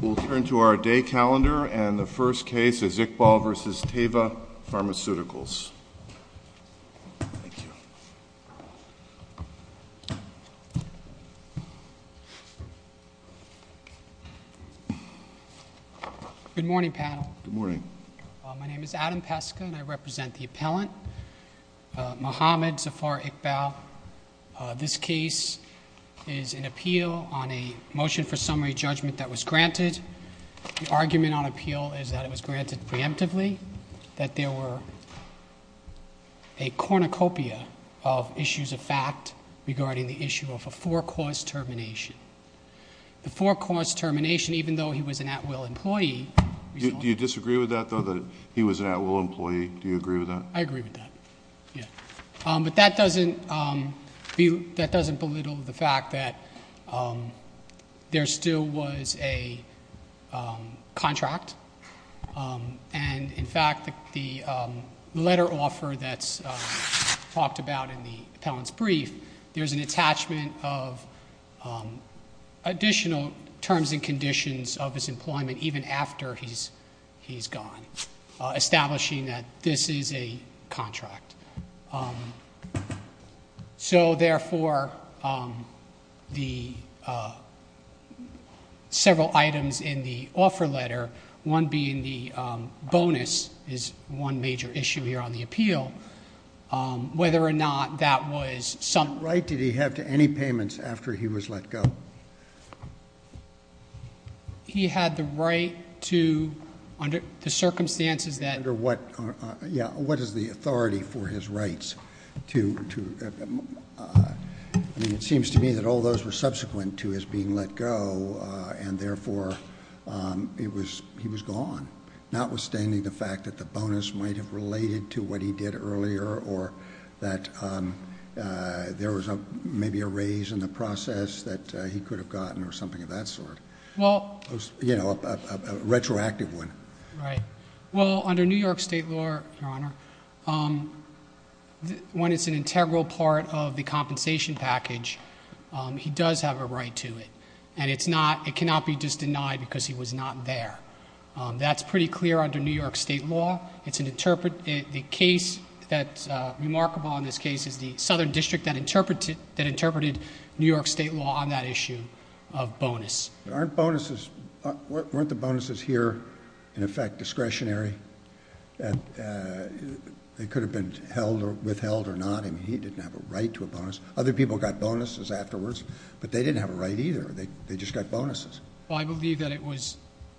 We'll turn to our day calendar, and the first case is Iqbal v. Teva Pharmaceuticals. Thank you. Good morning, panel. Good morning. My name is Adam Peska, and I represent the appellant, Muhammad Zafar Iqbal. This case is an appeal on a motion for summary judgment that was granted. The argument on appeal is that it was granted preemptively, that there were a cornucopia of issues of fact regarding the issue of a four-cause termination. The four-cause termination, even though he was an at-will employee. Do you disagree with that, though, that he was an at-will employee? Do you agree with that? I agree with that, yes. But that doesn't belittle the fact that there still was a contract, and in fact the letter offer that's talked about in the appellant's brief, there's an attachment of additional terms and conditions of his employment even after he's gone, establishing that this is a contract. So therefore, several items in the offer letter, one being the bonus is one major issue here on the appeal, whether or not that was summed up. What right did he have to any payments after he was let go? He had the right to, under the circumstances that- Yeah, what is the authority for his rights? I mean, it seems to me that all those were subsequent to his being let go, and therefore he was gone, notwithstanding the fact that the bonus might have related to what he did earlier or that there was maybe a raise in the process that he could have gotten or something of that sort. Well- You know, a retroactive one. Right. Well, under New York State law, Your Honor, when it's an integral part of the compensation package, he does have a right to it, and it cannot be just denied because he was not there. That's pretty clear under New York State law. The case that's remarkable in this case is the southern district that interpreted New York State law on that issue of bonus. Aren't bonuses-weren't the bonuses here, in effect, discretionary? They could have been held or withheld or not. I mean, he didn't have a right to a bonus. Other people got bonuses afterwards, but they didn't have a right either. They just got bonuses. Well, I believe that it was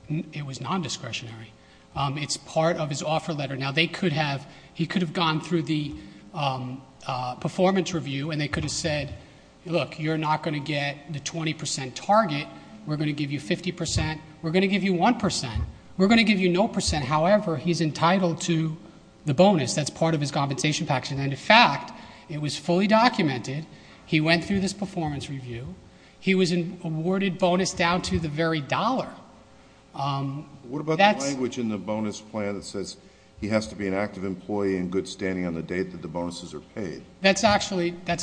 nondiscretionary. It's part of his offer letter. Now, they could have-he could have gone through the performance review, and they could have said, look, you're not going to get the 20 percent target. We're going to give you 50 percent. We're going to give you 1 percent. We're going to give you no percent. However, he's entitled to the bonus. That's part of his compensation package, and, in fact, it was fully documented. He went through this performance review. He was awarded bonus down to the very dollar. What about the language in the bonus plan that says he has to be an active employee and good standing on the date that the bonuses are paid? That's actually not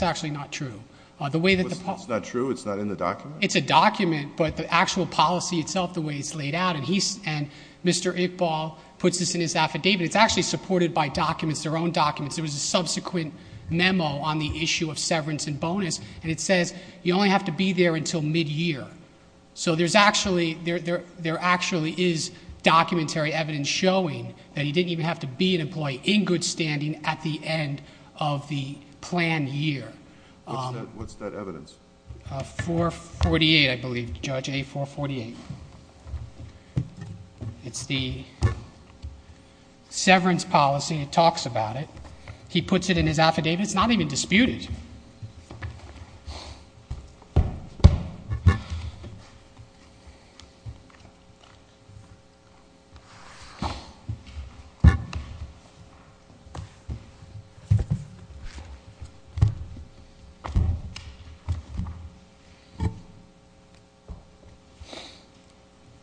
true. It's not true? It's not in the document? It's a document, but the actual policy itself, the way it's laid out, and Mr. Iqbal puts this in his affidavit, it's actually supported by documents, their own documents. There was a subsequent memo on the issue of severance and bonus, and it says you only have to be there until mid-year. So there actually is documentary evidence showing that he didn't even have to be an employee in good standing at the end of the planned year. What's that evidence? 448, I believe, Judge A. 448. It's the severance policy. It talks about it. He puts it in his affidavit. It's not even disputed. Thank you.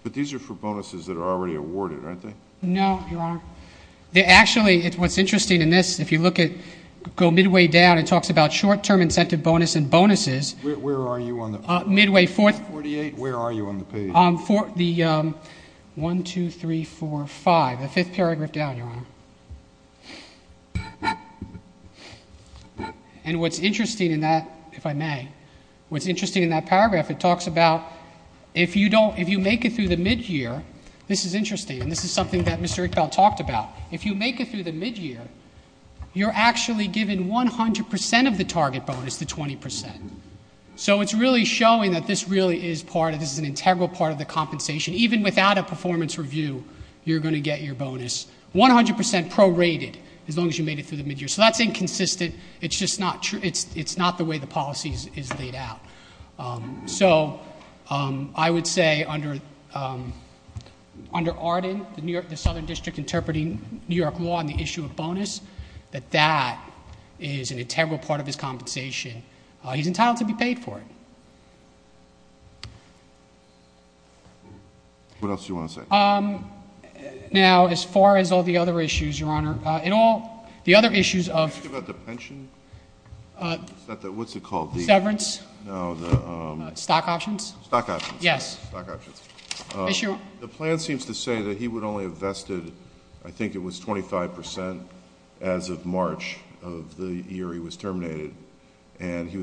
But these are for bonuses that are already awarded, aren't they? No, Your Honor. Actually, what's interesting in this, if you look at, go midway down, it talks about short-term incentive bonus and bonuses. Where are you on the page? Midway. 448, where are you on the page? The 1, 2, 3, 4, 5, the fifth paragraph down, Your Honor. And what's interesting in that, if I may, what's interesting in that paragraph, it talks about if you make it through the mid-year, this is interesting, and this is something that Mr. Eichfeld talked about. If you make it through the mid-year, you're actually given 100% of the target bonus, the 20%. So it's really showing that this really is part of, this is an integral part of the compensation. Even without a performance review, you're going to get your bonus 100% prorated, as long as you made it through the mid-year. So that's inconsistent. It's just not the way the policy is laid out. So I would say under Arden, the southern district interpreting New York law on the issue of bonus, that that is an integral part of his compensation. He's entitled to be paid for it. What else do you want to say? Now, as far as all the other issues, Your Honor, in all the other issues of- Did you ask about the pension? What's it called? Severance. No, the- Stock options? Stock options. Yes. Stock options. The plan seems to say that he would only have vested, I think it was 25%, as of March of the year he was terminated, and he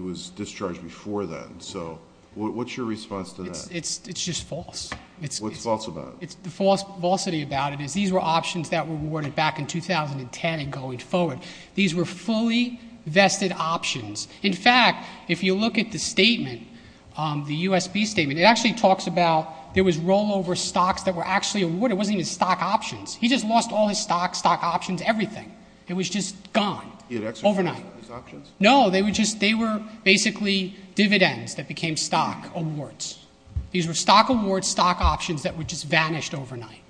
was discharged before then. So what's your response to that? It's just false. What's false about it? The falsity about it is these were options that were rewarded back in 2010 and going forward. These were fully vested options. In fact, if you look at the statement, the USB statement, it actually talks about there was rollover stocks that were actually awarded. It wasn't even stock options. He just lost all his stocks, stock options, everything. It was just gone overnight. He had exorbitant options? No, they were basically dividends that became stock awards. These were stock awards, stock options that just vanished overnight,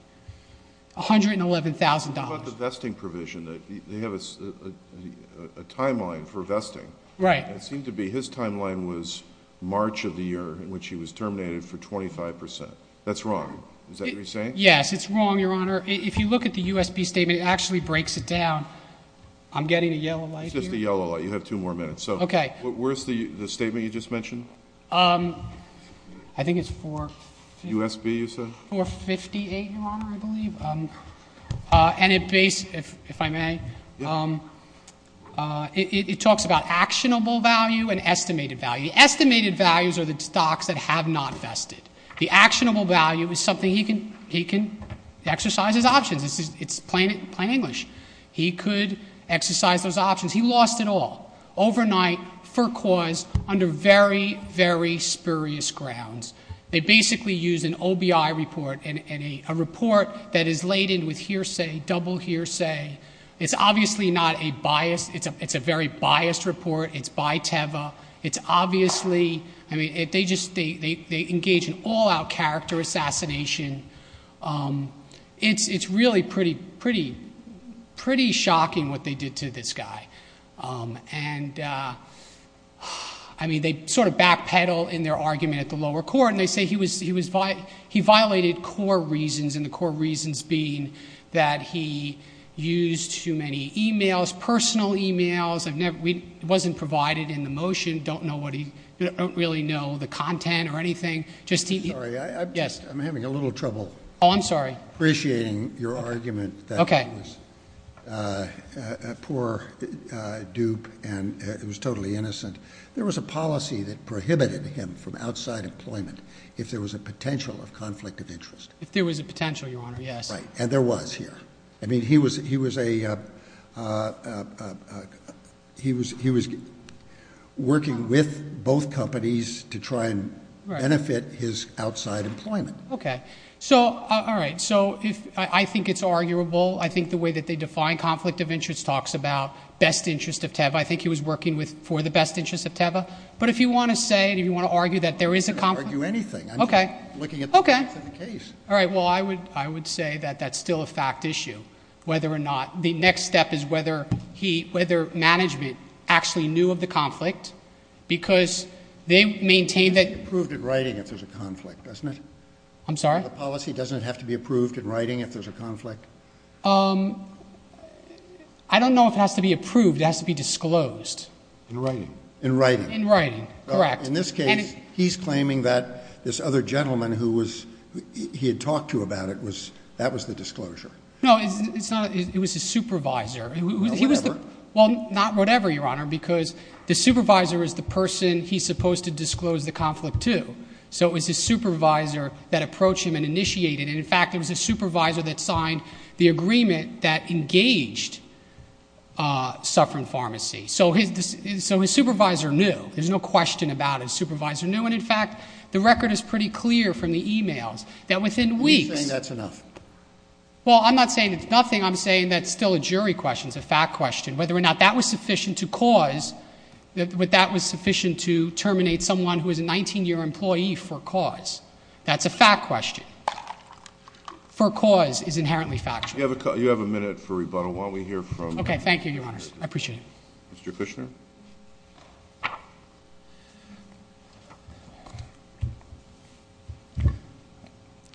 $111,000. What about the vesting provision? They have a timeline for vesting. Right. It seemed to be his timeline was March of the year in which he was terminated for 25%. That's wrong. Is that what you're saying? Yes, it's wrong, Your Honor. If you look at the USB statement, it actually breaks it down. I'm getting a yellow light here. It's just a yellow light. You have two more minutes. Okay. Where's the statement you just mentioned? I think it's 458, Your Honor, I believe. If I may, it talks about actionable value and estimated value. Estimated values are the stocks that have not vested. The actionable value is something he can exercise as options. It's plain English. He could exercise those options. He lost it all overnight for cause under very, very spurious grounds. They basically use an OBI report, a report that is laden with hearsay, double hearsay. It's obviously not a biased. It's a very biased report. It's by Teva. They engage in all-out character assassination. It's really pretty shocking what they did to this guy. I mean, they sort of backpedal in their argument at the lower court, and they say he violated core reasons, and the core reasons being that he used too many e-mails, personal e-mails. It wasn't provided in the motion. You don't really know the content or anything. Sorry, I'm having a little trouble appreciating your argument. He was a poor dupe, and he was totally innocent. There was a policy that prohibited him from outside employment if there was a potential of conflict of interest. If there was a potential, Your Honor, yes. And there was here. I mean, he was working with both companies to try and benefit his outside employment. All right, so I think it's arguable. I think the way that they define conflict of interest talks about best interest of Teva. I think he was working for the best interest of Teva. But if you want to say, if you want to argue that there is a conflict. I'm not going to argue anything. I'm just looking at the facts of the case. All right, well, I would say that that's still a fact issue, whether or not. The next step is whether management actually knew of the conflict because they maintained that. It has to be approved in writing if there's a conflict, doesn't it? I'm sorry? The policy doesn't have to be approved in writing if there's a conflict? I don't know if it has to be approved. It has to be disclosed. In writing. In writing. In writing, correct. In this case, he's claiming that this other gentleman who he had talked to about it, that was the disclosure. No, it was his supervisor. Whatever. Well, not whatever, Your Honor, because the supervisor is the person he's supposed to disclose the conflict to. So it was his supervisor that approached him and initiated it. And, in fact, it was his supervisor that signed the agreement that engaged Sufferin Pharmacy. So his supervisor knew. There's no question about it. His supervisor knew. And, in fact, the record is pretty clear from the e-mails that within weeks. Are you saying that's enough? Well, I'm not saying it's nothing. I'm saying that's still a jury question. It's a fact question. Whether or not that was sufficient to cause, that that was sufficient to terminate someone who is a 19-year employee for cause. That's a fact question. For cause is inherently factual. You have a minute for rebuttal. Why don't we hear from... Okay. Thank you, Your Honors. I appreciate it. Mr. Kushner.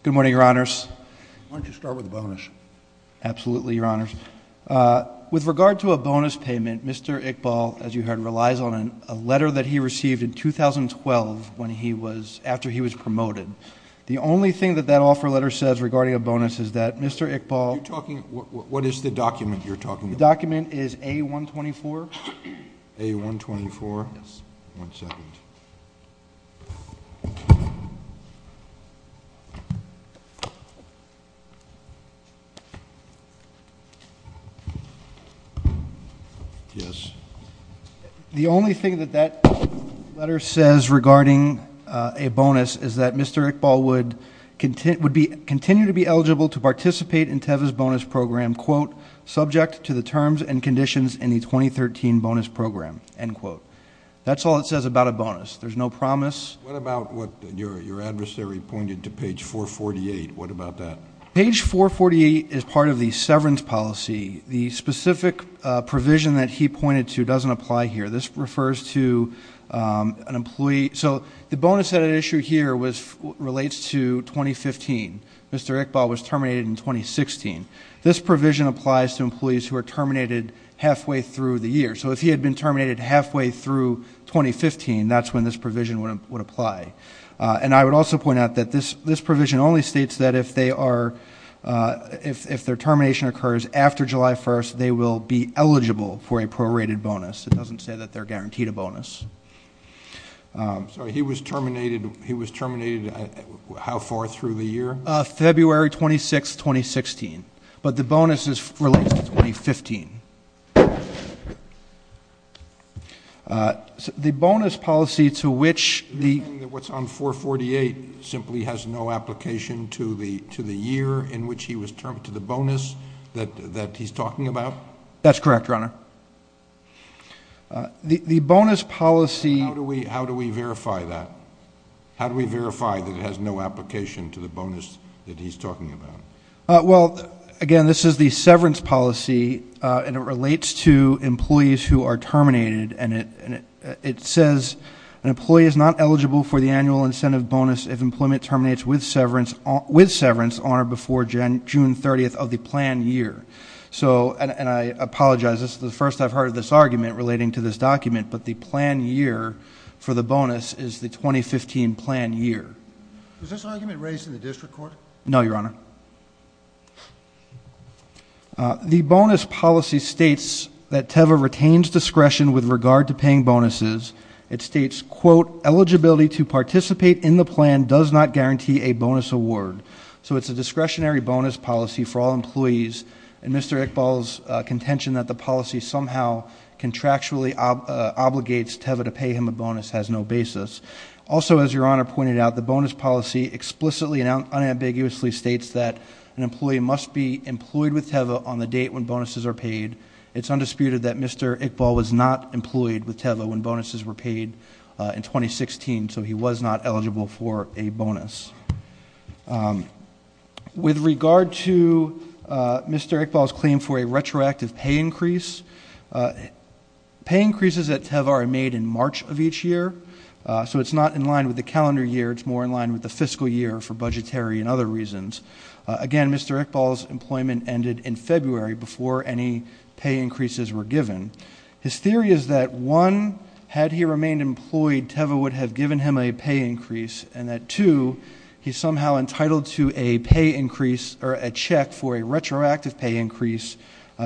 Good morning, Your Honors. Why don't you start with a bonus? Absolutely, Your Honors. With regard to a bonus payment, Mr. Iqbal, as you heard, relies on a letter that he received in 2012 after he was promoted. The only thing that that offer letter says regarding a bonus is that Mr. Iqbal... What is the document you're talking about? The document is A-124. A-124? Yes. One second. Yes. The only thing that that letter says regarding a bonus is that Mr. Iqbal would continue to be eligible to participate in TEVA's bonus program, subject to the terms and conditions in the 2013 bonus program. That's all it says about a bonus. There's no promise. What about what your adversary pointed to, page 448? What about that? Page 448 is part of the severance policy. The specific provision that he pointed to doesn't apply here. This refers to an employee... So the bonus that I issued here relates to 2015. Mr. Iqbal was terminated in 2016. This provision applies to employees who are terminated halfway through the year. So if he had been terminated halfway through 2015, that's when this provision would apply. And I would also point out that this provision only states that if their termination occurs after July 1st, they will be eligible for a prorated bonus. It doesn't say that they're guaranteed a bonus. So he was terminated how far through the year? February 26th, 2016. But the bonus is related to 2015. The bonus policy to which the... You're saying that what's on 448 simply has no application to the year in which he was terminated, to the bonus that he's talking about? That's correct, Your Honor. The bonus policy... How do we verify that? How do we verify that it has no application to the bonus that he's talking about? Well, again, this is the severance policy, and it relates to employees who are terminated, and it says an employee is not eligible for the annual incentive bonus if employment terminates with severance on or before June 30th of the planned year. So, and I apologize, this is the first I've heard of this argument relating to this document, but the planned year for the bonus is the 2015 planned year. Was this argument raised in the district court? No, Your Honor. The bonus policy states that TEVA retains discretion with regard to paying bonuses. It states, quote, Eligibility to participate in the plan does not guarantee a bonus award. So it's a discretionary bonus policy for all employees, and Mr. Iqbal's contention that the policy somehow contractually obligates TEVA to pay him a bonus has no basis. Also, as Your Honor pointed out, the bonus policy explicitly and unambiguously states that an employee must be employed with TEVA on the date when bonuses are paid. It's undisputed that Mr. Iqbal was not employed with TEVA when bonuses were paid in 2016, so he was not eligible for a bonus. With regard to Mr. Iqbal's claim for a retroactive pay increase, pay increases at TEVA are made in March of each year, so it's not in line with the calendar year. It's more in line with the fiscal year for budgetary and other reasons. Again, Mr. Iqbal's employment ended in February before any pay increases were given. His theory is that, one, had he remained employed, TEVA would have given him a pay increase, and that, two, he's somehow entitled to a pay increase or a check for a retroactive pay increase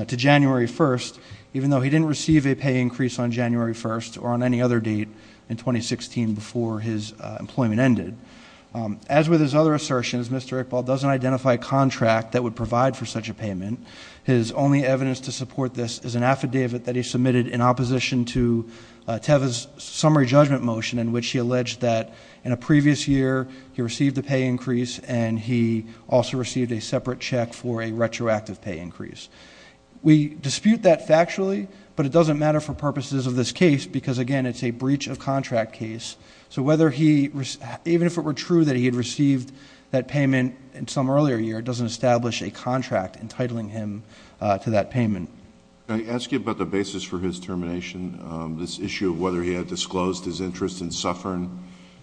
to January 1st, even though he didn't receive a pay increase on January 1st or on any other date in 2016 before his employment ended. As with his other assertions, Mr. Iqbal doesn't identify a contract that would provide for such a payment. His only evidence to support this is an affidavit that he submitted in opposition to TEVA's summary judgment motion in which he alleged that in a previous year he received a pay increase and he also received a separate check for a retroactive pay increase. We dispute that factually, but it doesn't matter for purposes of this case because, again, it's a breach of contract case. So even if it were true that he had received that payment some earlier year, it doesn't establish a contract entitling him to that payment. Can I ask you about the basis for his termination, this issue of whether he had disclosed his interest in Suffern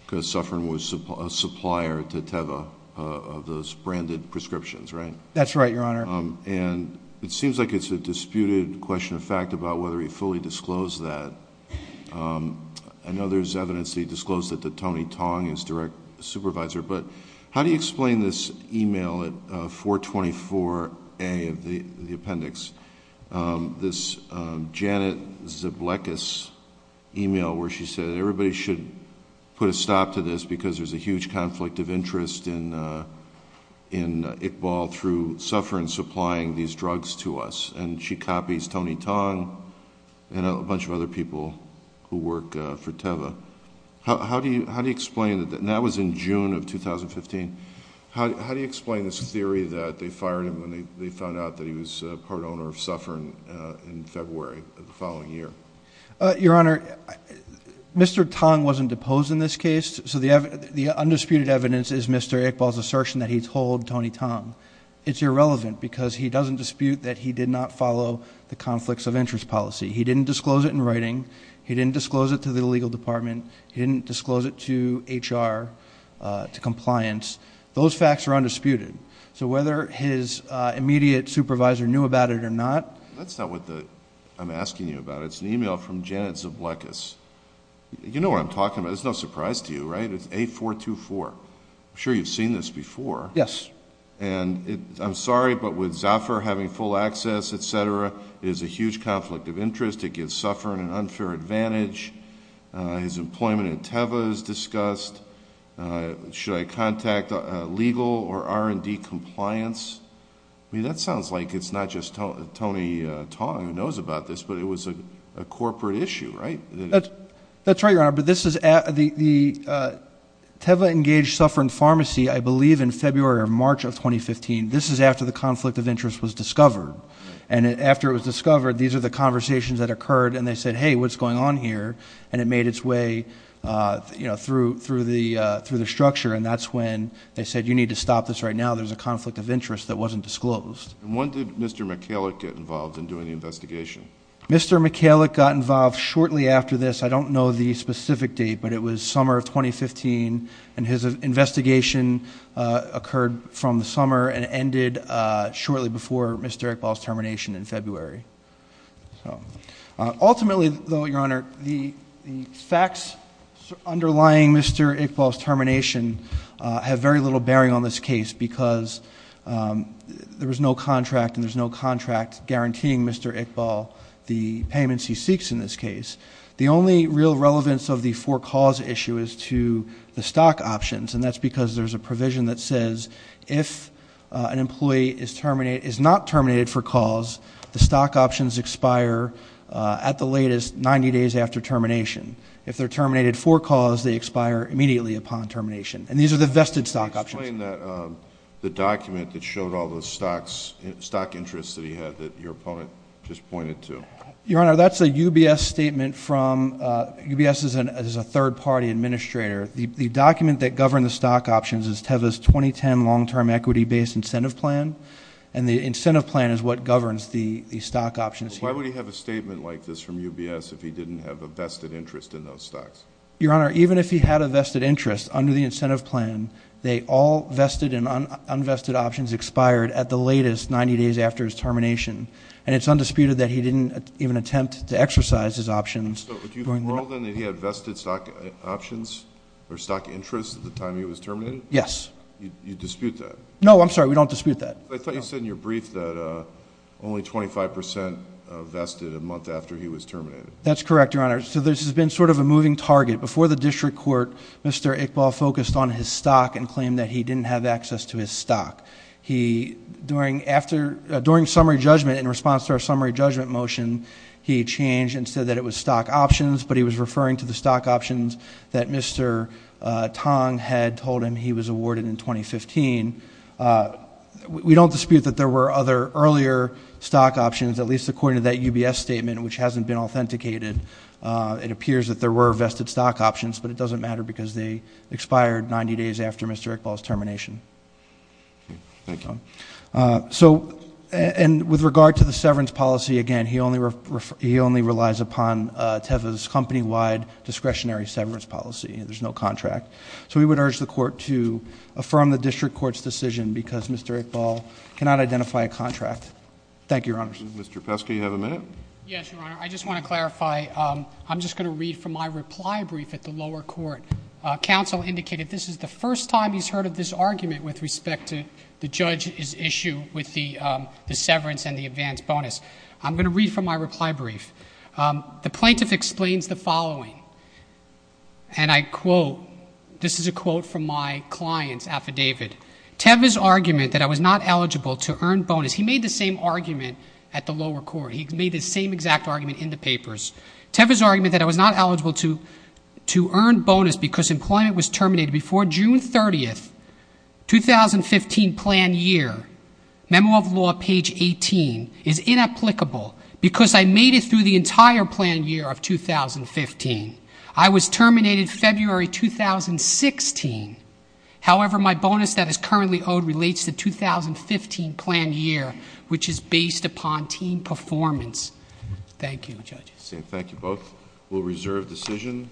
because Suffern was a supplier to TEVA of those branded prescriptions, right? That's right, Your Honor. And it seems like it's a disputed question of fact about whether he fully disclosed that. I know there's evidence that he disclosed that to Tony Tong, his direct supervisor, but how do you explain this e-mail at 424A of the appendix, this Janet Zblekis e-mail where she said everybody should put a stop to this because there's a huge conflict of interest in Iqbal through Suffern supplying these drugs to us, and she copies Tony Tong and a bunch of other people who work for TEVA. How do you explain that? And that was in June of 2015. How do you explain this theory that they fired him when they found out that he was part owner of Suffern in February of the following year? Your Honor, Mr. Tong wasn't deposed in this case, so the undisputed evidence is Mr. Iqbal's assertion that he told Tony Tong. It's irrelevant because he doesn't dispute that he did not follow the conflicts of interest policy. He didn't disclose it in writing. He didn't disclose it to the legal department. He didn't disclose it to HR, to compliance. Those facts are undisputed. So whether his immediate supervisor knew about it or not. That's not what I'm asking you about. It's an e-mail from Janet Zblekis. You know what I'm talking about. It's no surprise to you, right? It's A424. I'm sure you've seen this before. Yes. His employment at Teva is discussed. Should I contact legal or R&D compliance? I mean, that sounds like it's not just Tony Tong who knows about this, but it was a corporate issue, right? That's right, Your Honor, but this is at the Teva Engage Suffern Pharmacy, I believe, in February or March of 2015. And after it was discovered, these are the conversations that occurred. And they said, hey, what's going on here? And it made its way through the structure, and that's when they said, you need to stop this right now. There's a conflict of interest that wasn't disclosed. And when did Mr. Michalik get involved in doing the investigation? Mr. Michalik got involved shortly after this. I don't know the specific date, but it was summer of 2015. And his investigation occurred from the summer and ended shortly before Mr. Iqbal's termination in February. Ultimately, though, Your Honor, the facts underlying Mr. Iqbal's termination have very little bearing on this case because there was no contract, and there's no contract guaranteeing Mr. Iqbal the payments he seeks in this case. The only real relevance of the four calls issue is to the stock options, and that's because there's a provision that says if an employee is not terminated for calls, the stock options expire at the latest 90 days after termination. If they're terminated for calls, they expire immediately upon termination. And these are the vested stock options. Can you explain the document that showed all the stock interests that he had that your opponent just pointed to? Your Honor, that's a UBS statement from UBS as a third-party administrator. The document that governed the stock options is TEVA's 2010 long-term equity-based incentive plan, and the incentive plan is what governs the stock options here. Why would he have a statement like this from UBS if he didn't have a vested interest in those stocks? Your Honor, even if he had a vested interest under the incentive plan, they all vested and unvested options expired at the latest 90 days after his termination, and it's undisputed that he didn't even attempt to exercise his options. So do you rule then that he had vested stock options or stock interests at the time he was terminated? Yes. You dispute that? No, I'm sorry. We don't dispute that. I thought you said in your brief that only 25 percent vested a month after he was terminated. That's correct, Your Honor. So this has been sort of a moving target. Before the district court, Mr. Iqbal focused on his stock and claimed that he didn't have access to his stock. During summary judgment, in response to our summary judgment motion, he changed and said that it was stock options, but he was referring to the stock options that Mr. Tong had told him he was awarded in 2015. We don't dispute that there were other earlier stock options, at least according to that UBS statement, which hasn't been authenticated. It appears that there were vested stock options, but it doesn't matter because they expired 90 days after Mr. Iqbal's termination. Thank you. So with regard to the severance policy, again, he only relies upon TEVA's company-wide discretionary severance policy. There's no contract. So we would urge the court to affirm the district court's decision because Mr. Iqbal cannot identify a contract. Thank you, Your Honor. Mr. Pesky, you have a minute? Yes, Your Honor. I just want to clarify. I'm just going to read from my reply brief at the lower court. Counsel indicated this is the first time he's heard of this argument with respect to the judge's issue with the severance and the advance bonus. I'm going to read from my reply brief. The plaintiff explains the following, and I quote, this is a quote from my client's affidavit. TEVA's argument that I was not eligible to earn bonus, he made the same argument at the lower court. He made the same exact argument in the papers. TEVA's argument that I was not eligible to earn bonus because employment was terminated before June 30th, 2015 plan year, Memo of Law, page 18, is inapplicable because I made it through the entire plan year of 2015. I was terminated February 2016. However, my bonus that is currently owed relates to 2015 plan year, which is based upon team performance. Thank you, Judge. Thank you both. We'll reserve decision.